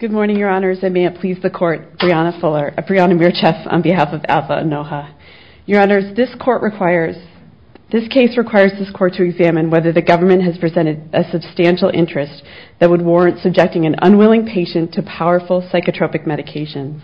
Good morning, your honors, and may it please the court, Brianna Mircheff on behalf of Nna Onuoha. Your honors, this case requires this court to examine whether the government has presented a substantial interest that would warrant subjecting an unwilling patient to powerful psychotropic medications.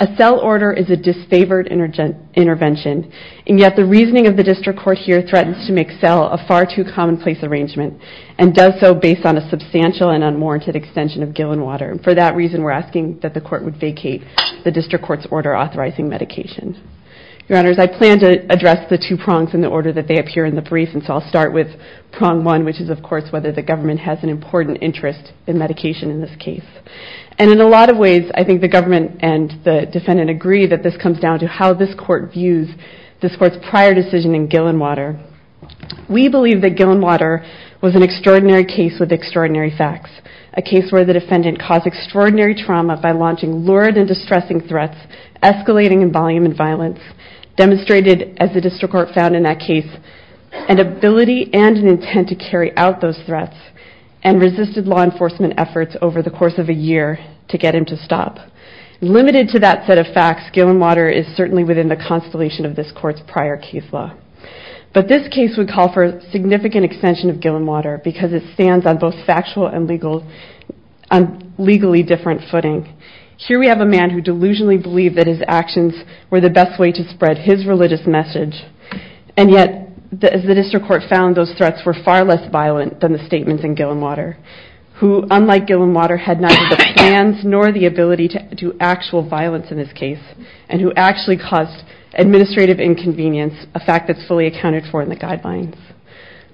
A cell order is a disfavored intervention, and yet the reasoning of the district court here threatens to make cell a far too commonplace arrangement, and does so based on a substantial and unwarranted extension of Gil and Water. For that reason, we're asking that the court would vacate the district court's order authorizing medication. Your honors, I plan to address the two prongs in the order that they appear in the brief, and so I'll start with prong one, which is, of course, whether the government has an important interest in medication in this case. And in a lot of ways, I think the government and the defendant agree that this comes down to how this court views this court's prior decision in Gil and Water. We believe that Gil and Water was an extraordinary case with extraordinary facts, a case where the defendant caused extraordinary trauma by launching lurid and distressing threats, escalating in volume and violence, demonstrated, as the district court found in that case, an ability and an intent to carry out those threats, and resisted law enforcement efforts over the course of a year to get him to stop. Limited to that set of facts, Gil and Water is certainly within the constellation of this court's prior case law. But this case would call for a significant extension of Gil and Water, because it stands on both factual and legally different footing. Here we have a man who delusionally believed that his actions were the best way to spread his religious message, and yet, as the district court found, those threats were far less violent than the statements in Gil and Water, who, unlike Gil and Water, had neither the plans nor the ability to do actual violence in this case, and who actually caused administrative inconvenience, a fact that's fully accounted for in the guidelines.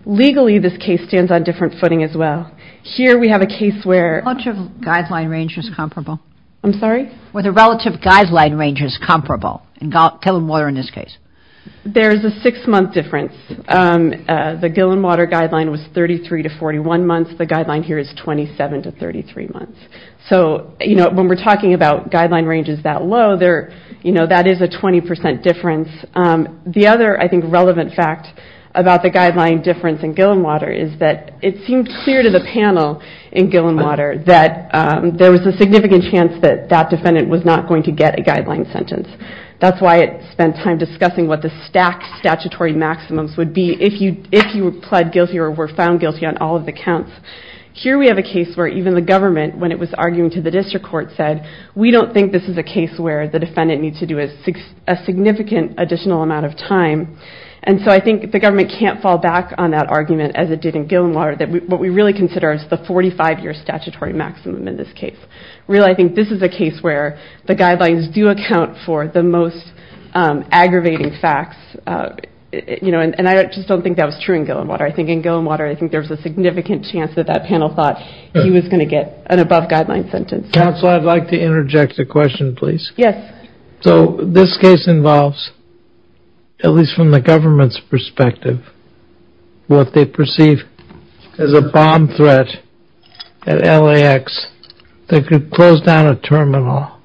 Legally, this case stands on different footing as well. Here we have a case where... Relative guideline range is comparable. I'm sorry? Where the relative guideline range is comparable in Gil and Water in this case. There's a six-month difference. The Gil and Water guideline was 33 to 41 months. The guideline here is 27 to 33 months. So when we're talking about guideline ranges that low, that is a 20% difference. The other, I think, relevant fact about the guideline difference in Gil and Water is that it seemed clear to the panel in Gil and Water that there was a significant chance that that defendant was not going to get a guideline sentence. That's why it spent time discussing what the stacked statutory maximums would be if you pled guilty or were found guilty on all of the counts. Here we have a case where even the government, when it was arguing to the district court, said, we don't think this is a case where the defendant needs to do a significant additional amount of time. And so I think the government can't fall back on that argument, as it did in Gil and Water, that what we really consider is the 45-year statutory maximum in this case. Really, I think this is a case where the guidelines do account for the most aggravating facts. And I just don't think that was true in Gil and Water. I think in Gil and Water, I think there was a significant chance that that panel thought he was going to get an above-guideline sentence. Counsel, I'd like to interject a question, please. Yes. So this case involves, at least from the government's perspective, what they perceive as a bomb threat at LAX that could close down a terminal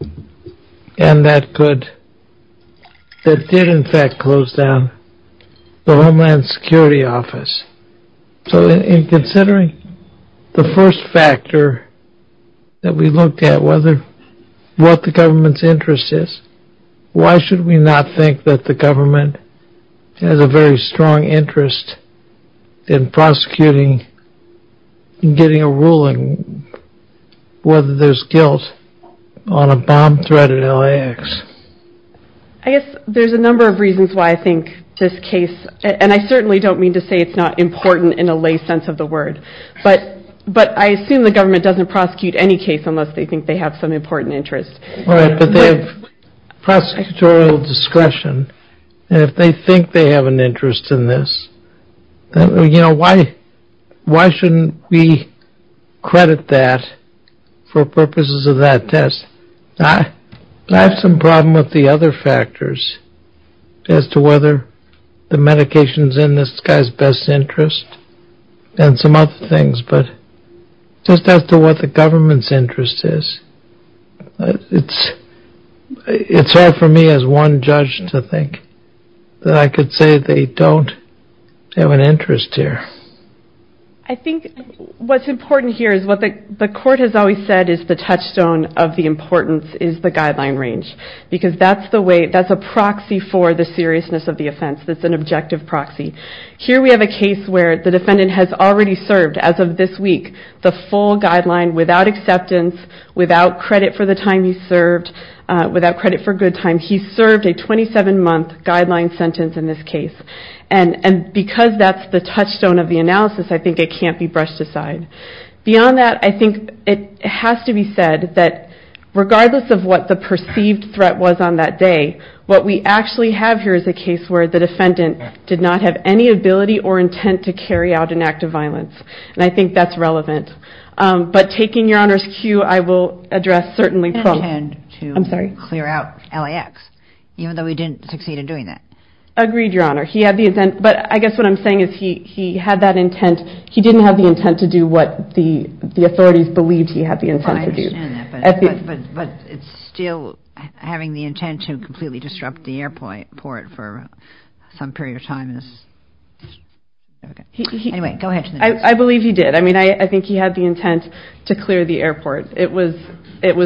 and that did, in fact, close down the Homeland Security Office. So in considering the first factor that we looked at, what the government's interest is, why should we not think that the government has a very strong interest in prosecuting and getting a ruling whether there's guilt on a bomb threat at LAX? I guess there's a number of reasons why I think this case, and I certainly don't mean to say it's not important in a lay sense of the word, but I assume the government doesn't prosecute any case unless they think they have some important interest. All right. But they have prosecutorial discretion. And if they think they have an interest in this, you know, why shouldn't we credit that for purposes of that test? I have some problem with the other factors as to whether the medications in this guy's best interest and some other things, but just as to what the government's interest is, it's hard for me as one judge to think that I could say they don't have an interest here. I think what's important here is what the court has always said is the touchstone of the importance is the guideline range because that's a proxy for the seriousness of the offense. That's an objective proxy. Here we have a case where the defendant has already served, as of this week, the full guideline without acceptance, without credit for the time he served, without credit for good time. He served a 27-month guideline sentence in this case. And because that's the touchstone of the analysis, I think it can't be brushed aside. Beyond that, I think it has to be said that regardless of what the perceived threat was on that day, what we actually have here is a case where the defendant did not have any ability or intent to carry out an act of violence. And I think that's relevant. But taking Your Honor's cue, I will address certainly from... He didn't intend to clear out LAX, even though he didn't succeed in doing that. Agreed, Your Honor. He had the intent, but I guess what I'm saying is he had that intent. He didn't have the intent to do what the authorities believed he had the intent to do. I understand that, but it's still having the intent to completely disrupt the airport for some period of time is... Anyway, go ahead. I believe he did. I mean, I think he had the intent to clear the airport. It was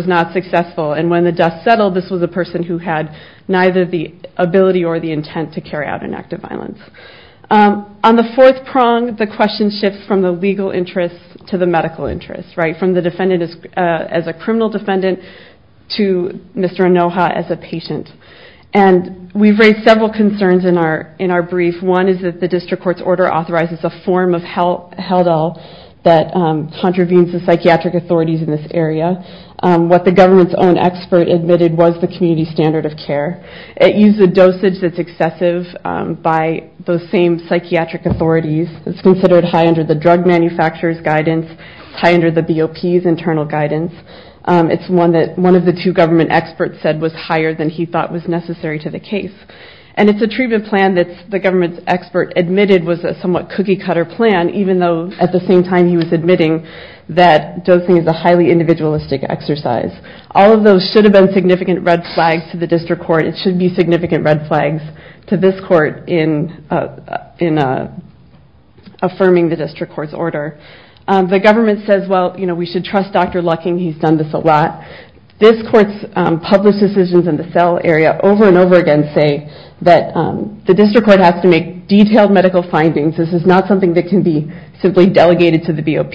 not successful. And when the dust settled, this was a person who had neither the ability or the intent to carry out an act of violence. On the fourth prong, the question shifts from the legal interest to the medical interest, right, from the defendant as a criminal defendant to Mr. Anoha as a patient. And we've raised several concerns in our brief. One is that the district court's order authorizes a form of Heldell that contravenes the psychiatric authorities in this area. What the government's own expert admitted was the community standard of care. It used a dosage that's excessive by those same psychiatric authorities. It's considered high under the drug manufacturer's guidance, high under the BOP's internal guidance. It's one that one of the two government experts said was higher than he thought was necessary to the case. And it's a treatment plan that the government's expert admitted was a somewhat cookie-cutter plan, even though at the same time he was admitting that dosing is a highly individualistic exercise. All of those should have been significant red flags to the district court. It should be significant red flags to this court in affirming the district court's order. The government says, well, you know, we should trust Dr. Lucking. He's done this a lot. This court's public decisions in the cell area over and over again say that the district court has to make detailed medical findings. This is not something that can be simply delegated to the BOP.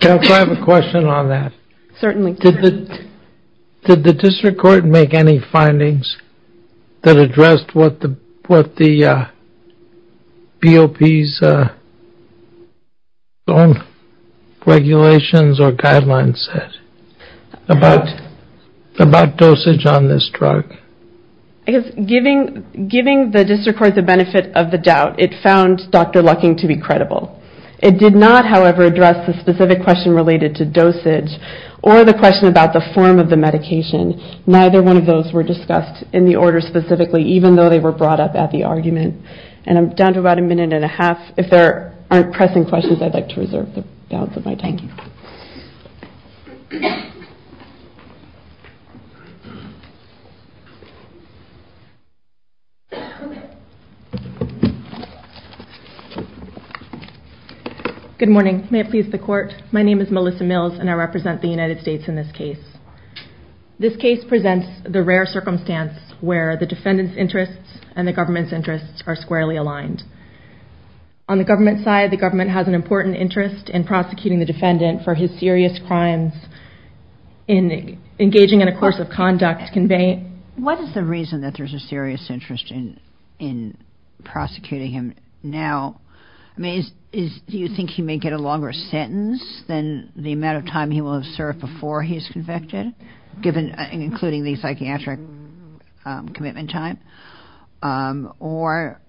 Can I have a question on that? Certainly. Did the district court make any findings that addressed what the BOP's own regulations or guidelines said about dosage on this drug? I guess giving the district court the benefit of the doubt, it found Dr. Lucking to be credible. It did not, however, address the specific question related to dosage or the question about the form of the medication. Neither one of those were discussed in the order specifically, even though they were brought up at the argument. And I'm down to about a minute and a half. If there aren't pressing questions, I'd like to reserve the balance of my time. Good morning. May it please the court. My name is Melissa Mills, and I represent the United States in this case. This case presents the rare circumstance where the defendant's interests and the government's interests are squarely aligned. On the government side, the government has an important interest in prosecuting the defendant for his serious crimes in engaging in a course of conduct conveyed. What is the reason that there's a serious interest in prosecuting him now? Do you think he may get a longer sentence than the amount of time he will have served before he's convicted, including the psychiatric commitment time? Or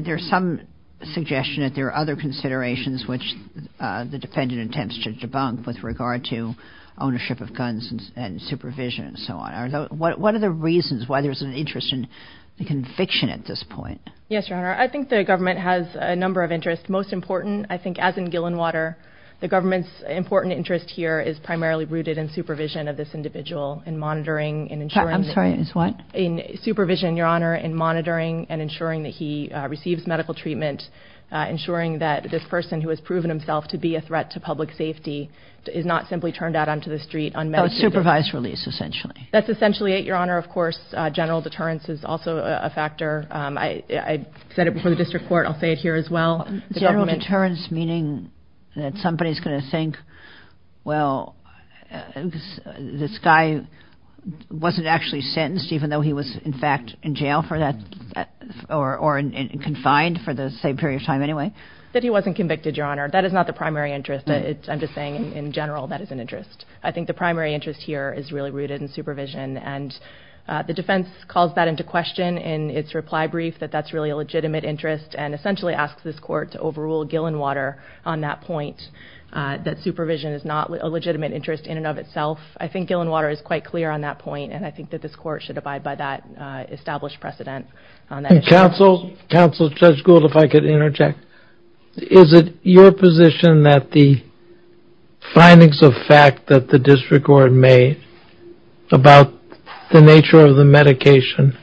there's some suggestion that there are other considerations which the defendant attempts to debunk with regard to ownership of guns and supervision and so on. What are the reasons why there's an interest in conviction at this point? Yes, Your Honor. I think the government has a number of interests. Most important, I think, as in Gillenwater, the government's important interest here is primarily rooted in supervision of this individual, in monitoring and ensuring that... I'm sorry, in what? In supervision, Your Honor, in monitoring and ensuring that he receives medical treatment, ensuring that this person who has proven himself to be a threat to public safety is not simply turned out onto the street unmedicated. A supervised release, essentially. That's essentially it, Your Honor. Of course, general deterrence is also a factor. I said it before the district court. I'll say it here as well. General deterrence meaning that somebody's going to think, well, this guy wasn't actually sentenced even though he was, in fact, in jail for that... or confined for the same period of time anyway? That he wasn't convicted, Your Honor. That is not the primary interest. I'm just saying, in general, that is an interest. I think the primary interest here is really rooted in supervision, and the defense calls that into question in its reply brief, that that's really a legitimate interest, and essentially asks this court to overrule Gillenwater on that point, that supervision is not a legitimate interest in and of itself. I think Gillenwater is quite clear on that point, and I think that this court should abide by that established precedent. Counsel, Judge Gould, if I could interject. Is it your position that the findings of fact that the district court made about the nature of the medication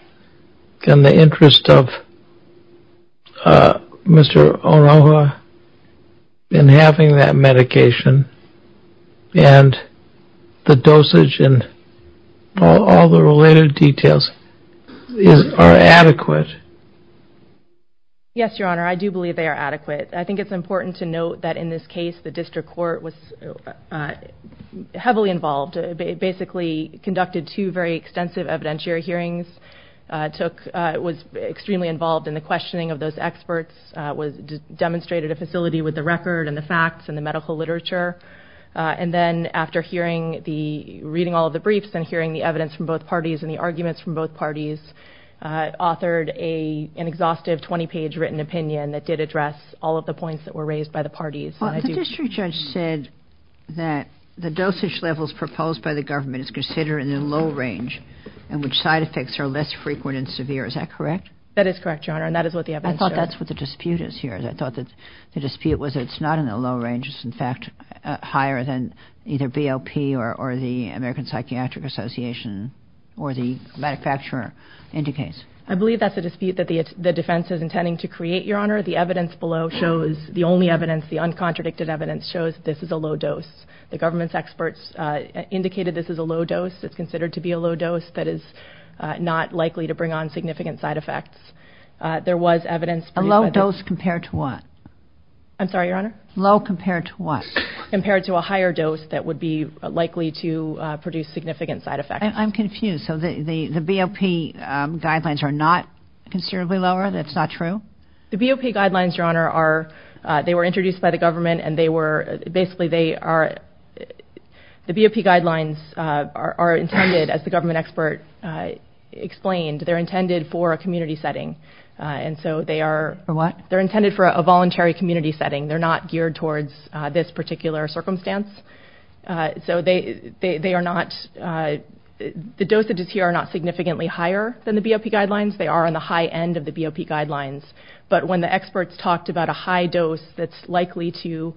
and the interest of Mr. Onoha in having that medication and the dosage and all the related details are adequate? Yes, Your Honor, I do believe they are adequate. I think it's important to note that in this case, the district court was heavily involved, basically conducted two very extensive evidentiary hearings, was extremely involved in the questioning of those experts, demonstrated a facility with the record and the facts and the medical literature, and then after reading all of the briefs and hearing the evidence from both parties and the arguments from both parties, authored an exhaustive 20-page written opinion that did address all of the points that were raised by the parties. Well, the district judge said that the dosage levels proposed by the government is considered in the low range in which side effects are less frequent and severe. Is that correct? That is correct, Your Honor, and that is what the evidence shows. I thought that's what the dispute is here. I thought that the dispute was it's not in the low range. It's, in fact, higher than either BLP or the American Psychiatric Association or the manufacturer indicates. I believe that's a dispute that the defense is intending to create, Your Honor. The evidence below shows the only evidence, the uncontradicted evidence, shows this is a low dose. The government's experts indicated this is a low dose. It's considered to be a low dose that is not likely to bring on significant side effects. There was evidence. A low dose compared to what? I'm sorry, Your Honor? Low compared to what? Compared to a higher dose that would be likely to produce significant side effects. I'm confused. So the BLP guidelines are not considerably lower? That's not true? The BLP guidelines, Your Honor, they were introduced by the government and basically the BLP guidelines are intended, as the government expert explained, they're intended for a community setting. For what? They're intended for a voluntary community setting. They're not geared towards this particular circumstance. So the dosages here are not significantly higher than the BLP guidelines. They are on the high end of the BLP guidelines. But when the experts talked about a high dose that's likely to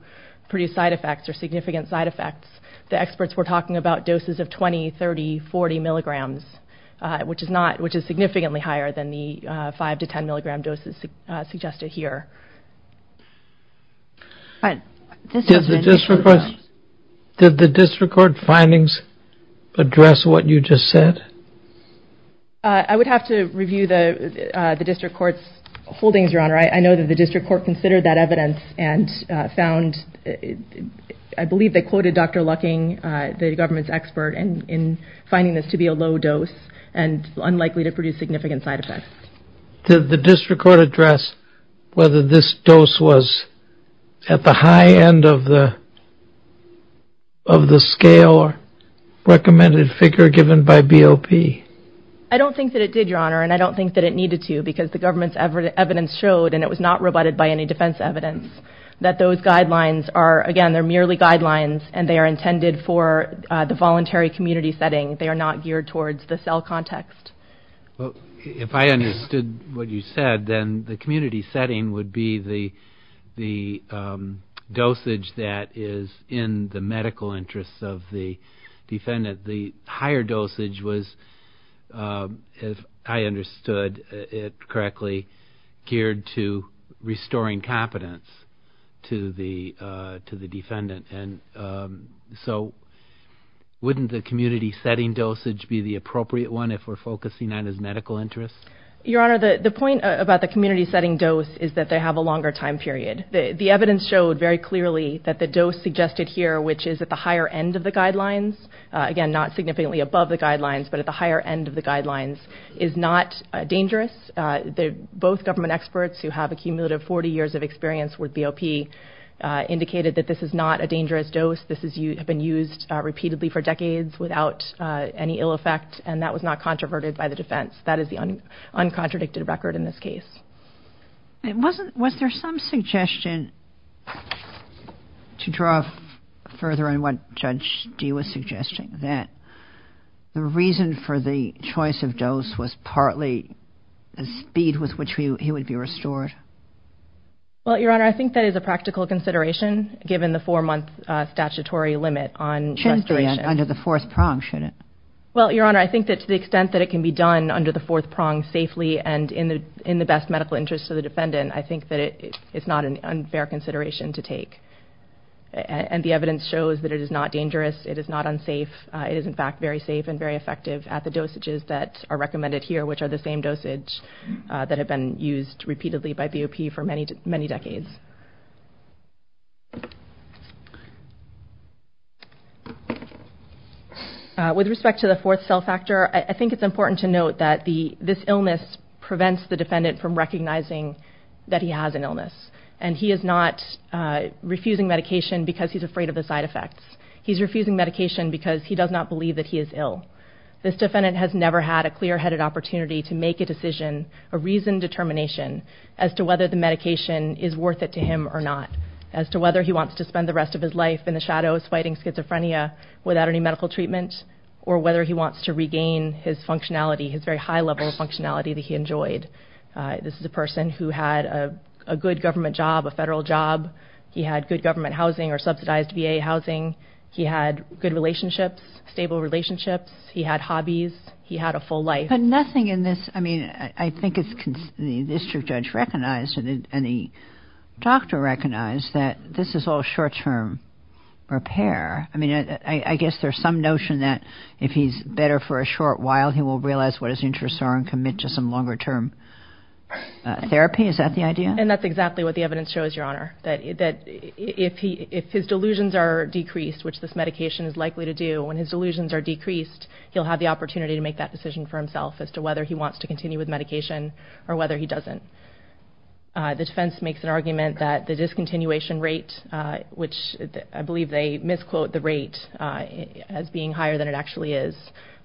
produce side effects or significant side effects, the experts were talking about doses of 20, 30, 40 milligrams, which is significantly higher than the 5 to 10 milligram doses suggested here. Did the district court findings address what you just said? I would have to review the district court's holdings, Your Honor. I know that the district court considered that evidence and found, I believe they quoted Dr. Lucking, the government's expert, in finding this to be a low dose and unlikely to produce significant side effects. Did the district court address whether this dose was at the high end of the scale recommended figure given by BLP? I don't think that it did, Your Honor, and I don't think that it needed to because the government's evidence showed, and it was not rebutted by any defense evidence, that those guidelines are, again, they're merely guidelines and they are intended for the voluntary community setting. They are not geared towards the cell context. If I understood what you said, then the community setting would be the dosage that is in the medical interests of the defendant. The higher dosage was, if I understood it correctly, geared to restoring competence to the defendant. So wouldn't the community setting dosage be the appropriate one if we're focusing on his medical interests? Your Honor, the point about the community setting dose is that they have a longer time period. The evidence showed very clearly that the dose suggested here, which is at the higher end of the guidelines, again, not significantly above the guidelines, but at the higher end of the guidelines, is not dangerous. Both government experts who have a cumulative 40 years of experience with BLP indicated that this is not a dangerous dose. This has been used repeatedly for decades without any ill effect, and that was not controverted by the defense. That is the uncontradicted record in this case. Was there some suggestion to draw further on what Judge Dee was suggesting, that the reason for the choice of dose was partly the speed with which he would be restored? Well, Your Honor, I think that is a practical consideration given the four-month statutory limit on restoration. It shouldn't be under the fourth prong, should it? Well, Your Honor, I think that to the extent that it can be done under the fourth prong safely and in the best medical interest of the defendant, I think that it's not an unfair consideration to take. And the evidence shows that it is not dangerous. It is not unsafe. It is, in fact, very safe and very effective at the dosages that are recommended here, which are the same dosage that have been used repeatedly by BOP for many decades. With respect to the fourth cell factor, I think it's important to note that this illness prevents the defendant from recognizing that he has an illness. And he is not refusing medication because he's afraid of the side effects. He's refusing medication because he does not believe that he is ill. This defendant has never had a clear-headed opportunity to make a decision, a reasoned determination, as to whether the medication is worth it to him or not, as to whether he wants to spend the rest of his life in the shadows fighting schizophrenia without any medical treatment, or whether he wants to regain his functionality, his very high-level functionality that he enjoyed. This is a person who had a good government job, a federal job. He had good government housing or subsidized VA housing. He had good relationships, stable relationships. He had hobbies. He had a full life. But nothing in this, I mean, I think the district judge recognized and the doctor recognized that this is all short-term repair. I mean, I guess there's some notion that if he's better for a short while, he will realize what his interests are and commit to some longer-term therapy. Is that the idea? And that's exactly what the evidence shows, Your Honor, that if his delusions are decreased, which this medication is likely to do, when his delusions are decreased, he'll have the opportunity to make that decision for himself as to whether he wants to continue with medication or whether he doesn't. The defense makes an argument that the discontinuation rate, which I believe they misquote the rate as being higher than it actually is,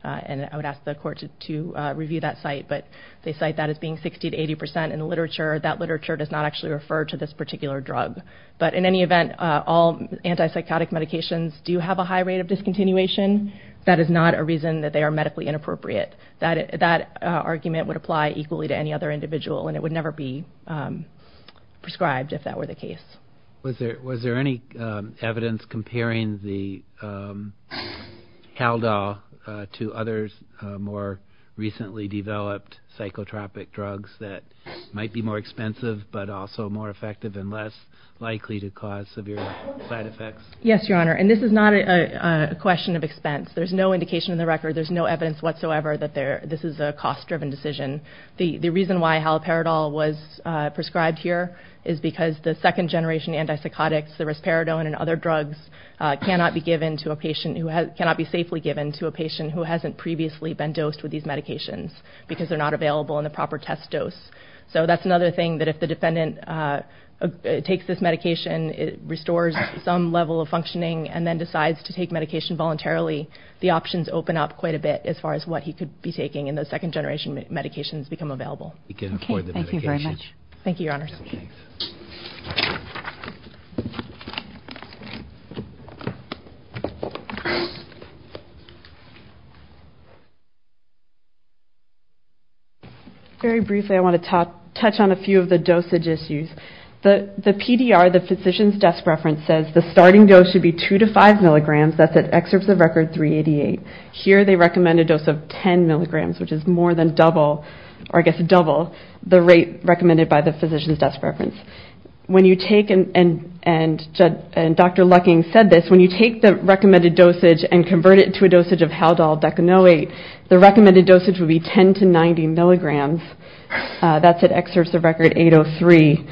and I would ask the court to review that site, but they cite that as being 60% to 80% in the literature. That literature does not actually refer to this particular drug. But in any event, all antipsychotic medications do have a high rate of discontinuation. That is not a reason that they are medically inappropriate. That argument would apply equally to any other individual, and it would never be prescribed if that were the case. Was there any evidence comparing the Halperidol to other more recently developed psychotropic drugs that might be more expensive but also more effective and less likely to cause severe side effects? Yes, Your Honor, and this is not a question of expense. There's no indication in the record, there's no evidence whatsoever, that this is a cost-driven decision. The reason why Halperidol was prescribed here is because the second-generation antipsychotics, the risperidone and other drugs, cannot be safely given to a patient who hasn't previously been dosed with these medications because they're not available in the proper test dose. So that's another thing that if the defendant takes this medication, it restores some level of functioning, and then decides to take medication voluntarily, the options open up quite a bit as far as what he could be taking and those second-generation medications become available. Okay, thank you very much. Thank you, Your Honor. Very briefly, I want to touch on a few of the dosage issues. The PDR, the physician's desk reference, says the starting dose should be 2 to 5 milligrams. That's at excerpts of record 388. Here they recommend a dose of 10 milligrams, which is more than double, or I guess double the rate recommended by the physician's desk reference. When you take, and Dr. Lucking said this, when you take the recommended dosage and convert it to a dosage of Haldol, Decanoate, the recommended dosage would be 10 to 90 milligrams. That's at excerpts of record 803.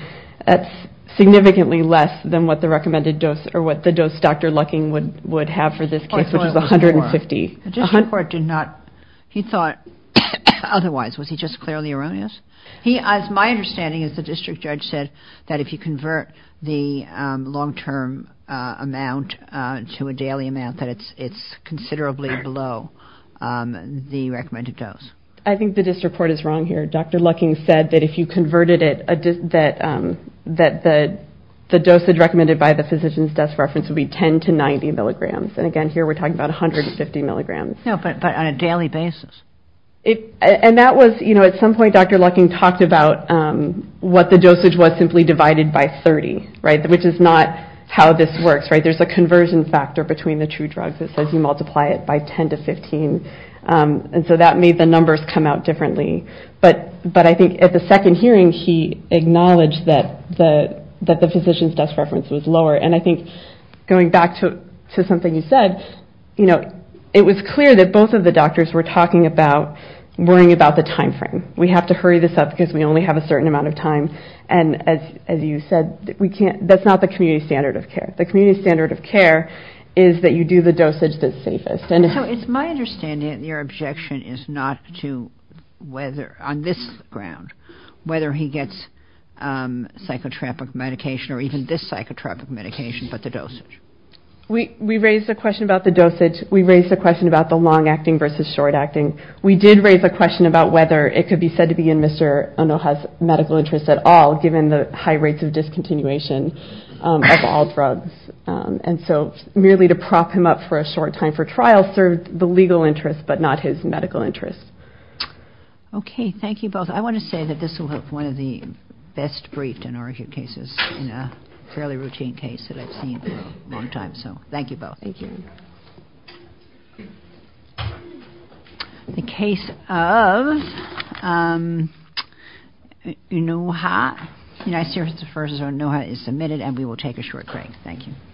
That's significantly less than what the recommended dose, or what the dose Dr. Lucking would have for this case, which is 150. The district court did not, he thought otherwise. Was he just clearly erroneous? My understanding is the district judge said that if you convert the long-term amount to a daily amount, that it's considerably below the recommended dose. I think the district court is wrong here. Dr. Lucking said that if you converted it, that the dosage recommended by the physician's desk reference would be 10 to 90 milligrams. And again, here we're talking about 150 milligrams. No, but on a daily basis. And that was, you know, at some point Dr. Lucking talked about what the dosage was simply divided by 30, right? Which is not how this works, right? There's a conversion factor between the two drugs that says you multiply it by 10 to 15. And so that made the numbers come out differently. But I think at the second hearing, he acknowledged that the physician's desk reference was lower. And I think going back to something you said, you know, it was clear that both of the doctors were talking about worrying about the timeframe. We have to hurry this up because we only have a certain amount of time. And as you said, that's not the community standard of care. The community standard of care is that you do the dosage that's safest. So it's my understanding that your objection is not to whether, on this ground, whether he gets psychotropic medication or even this psychotropic medication, but the dosage. We raised a question about the dosage. We raised a question about the long-acting versus short-acting. We did raise a question about whether it could be said to be in Mr. Onoha's medical interest at all, given the high rates of discontinuation of all drugs. And so merely to prop him up for a short time for trial served the legal interest, but not his medical interest. Okay, thank you both. I want to say that this will help one of the best briefed and argued cases in a fairly routine case that I've seen in a long time. So thank you both. Thank you. The case of Onoha, United Services versus Onoha is submitted, and we will take a short break. Thank you.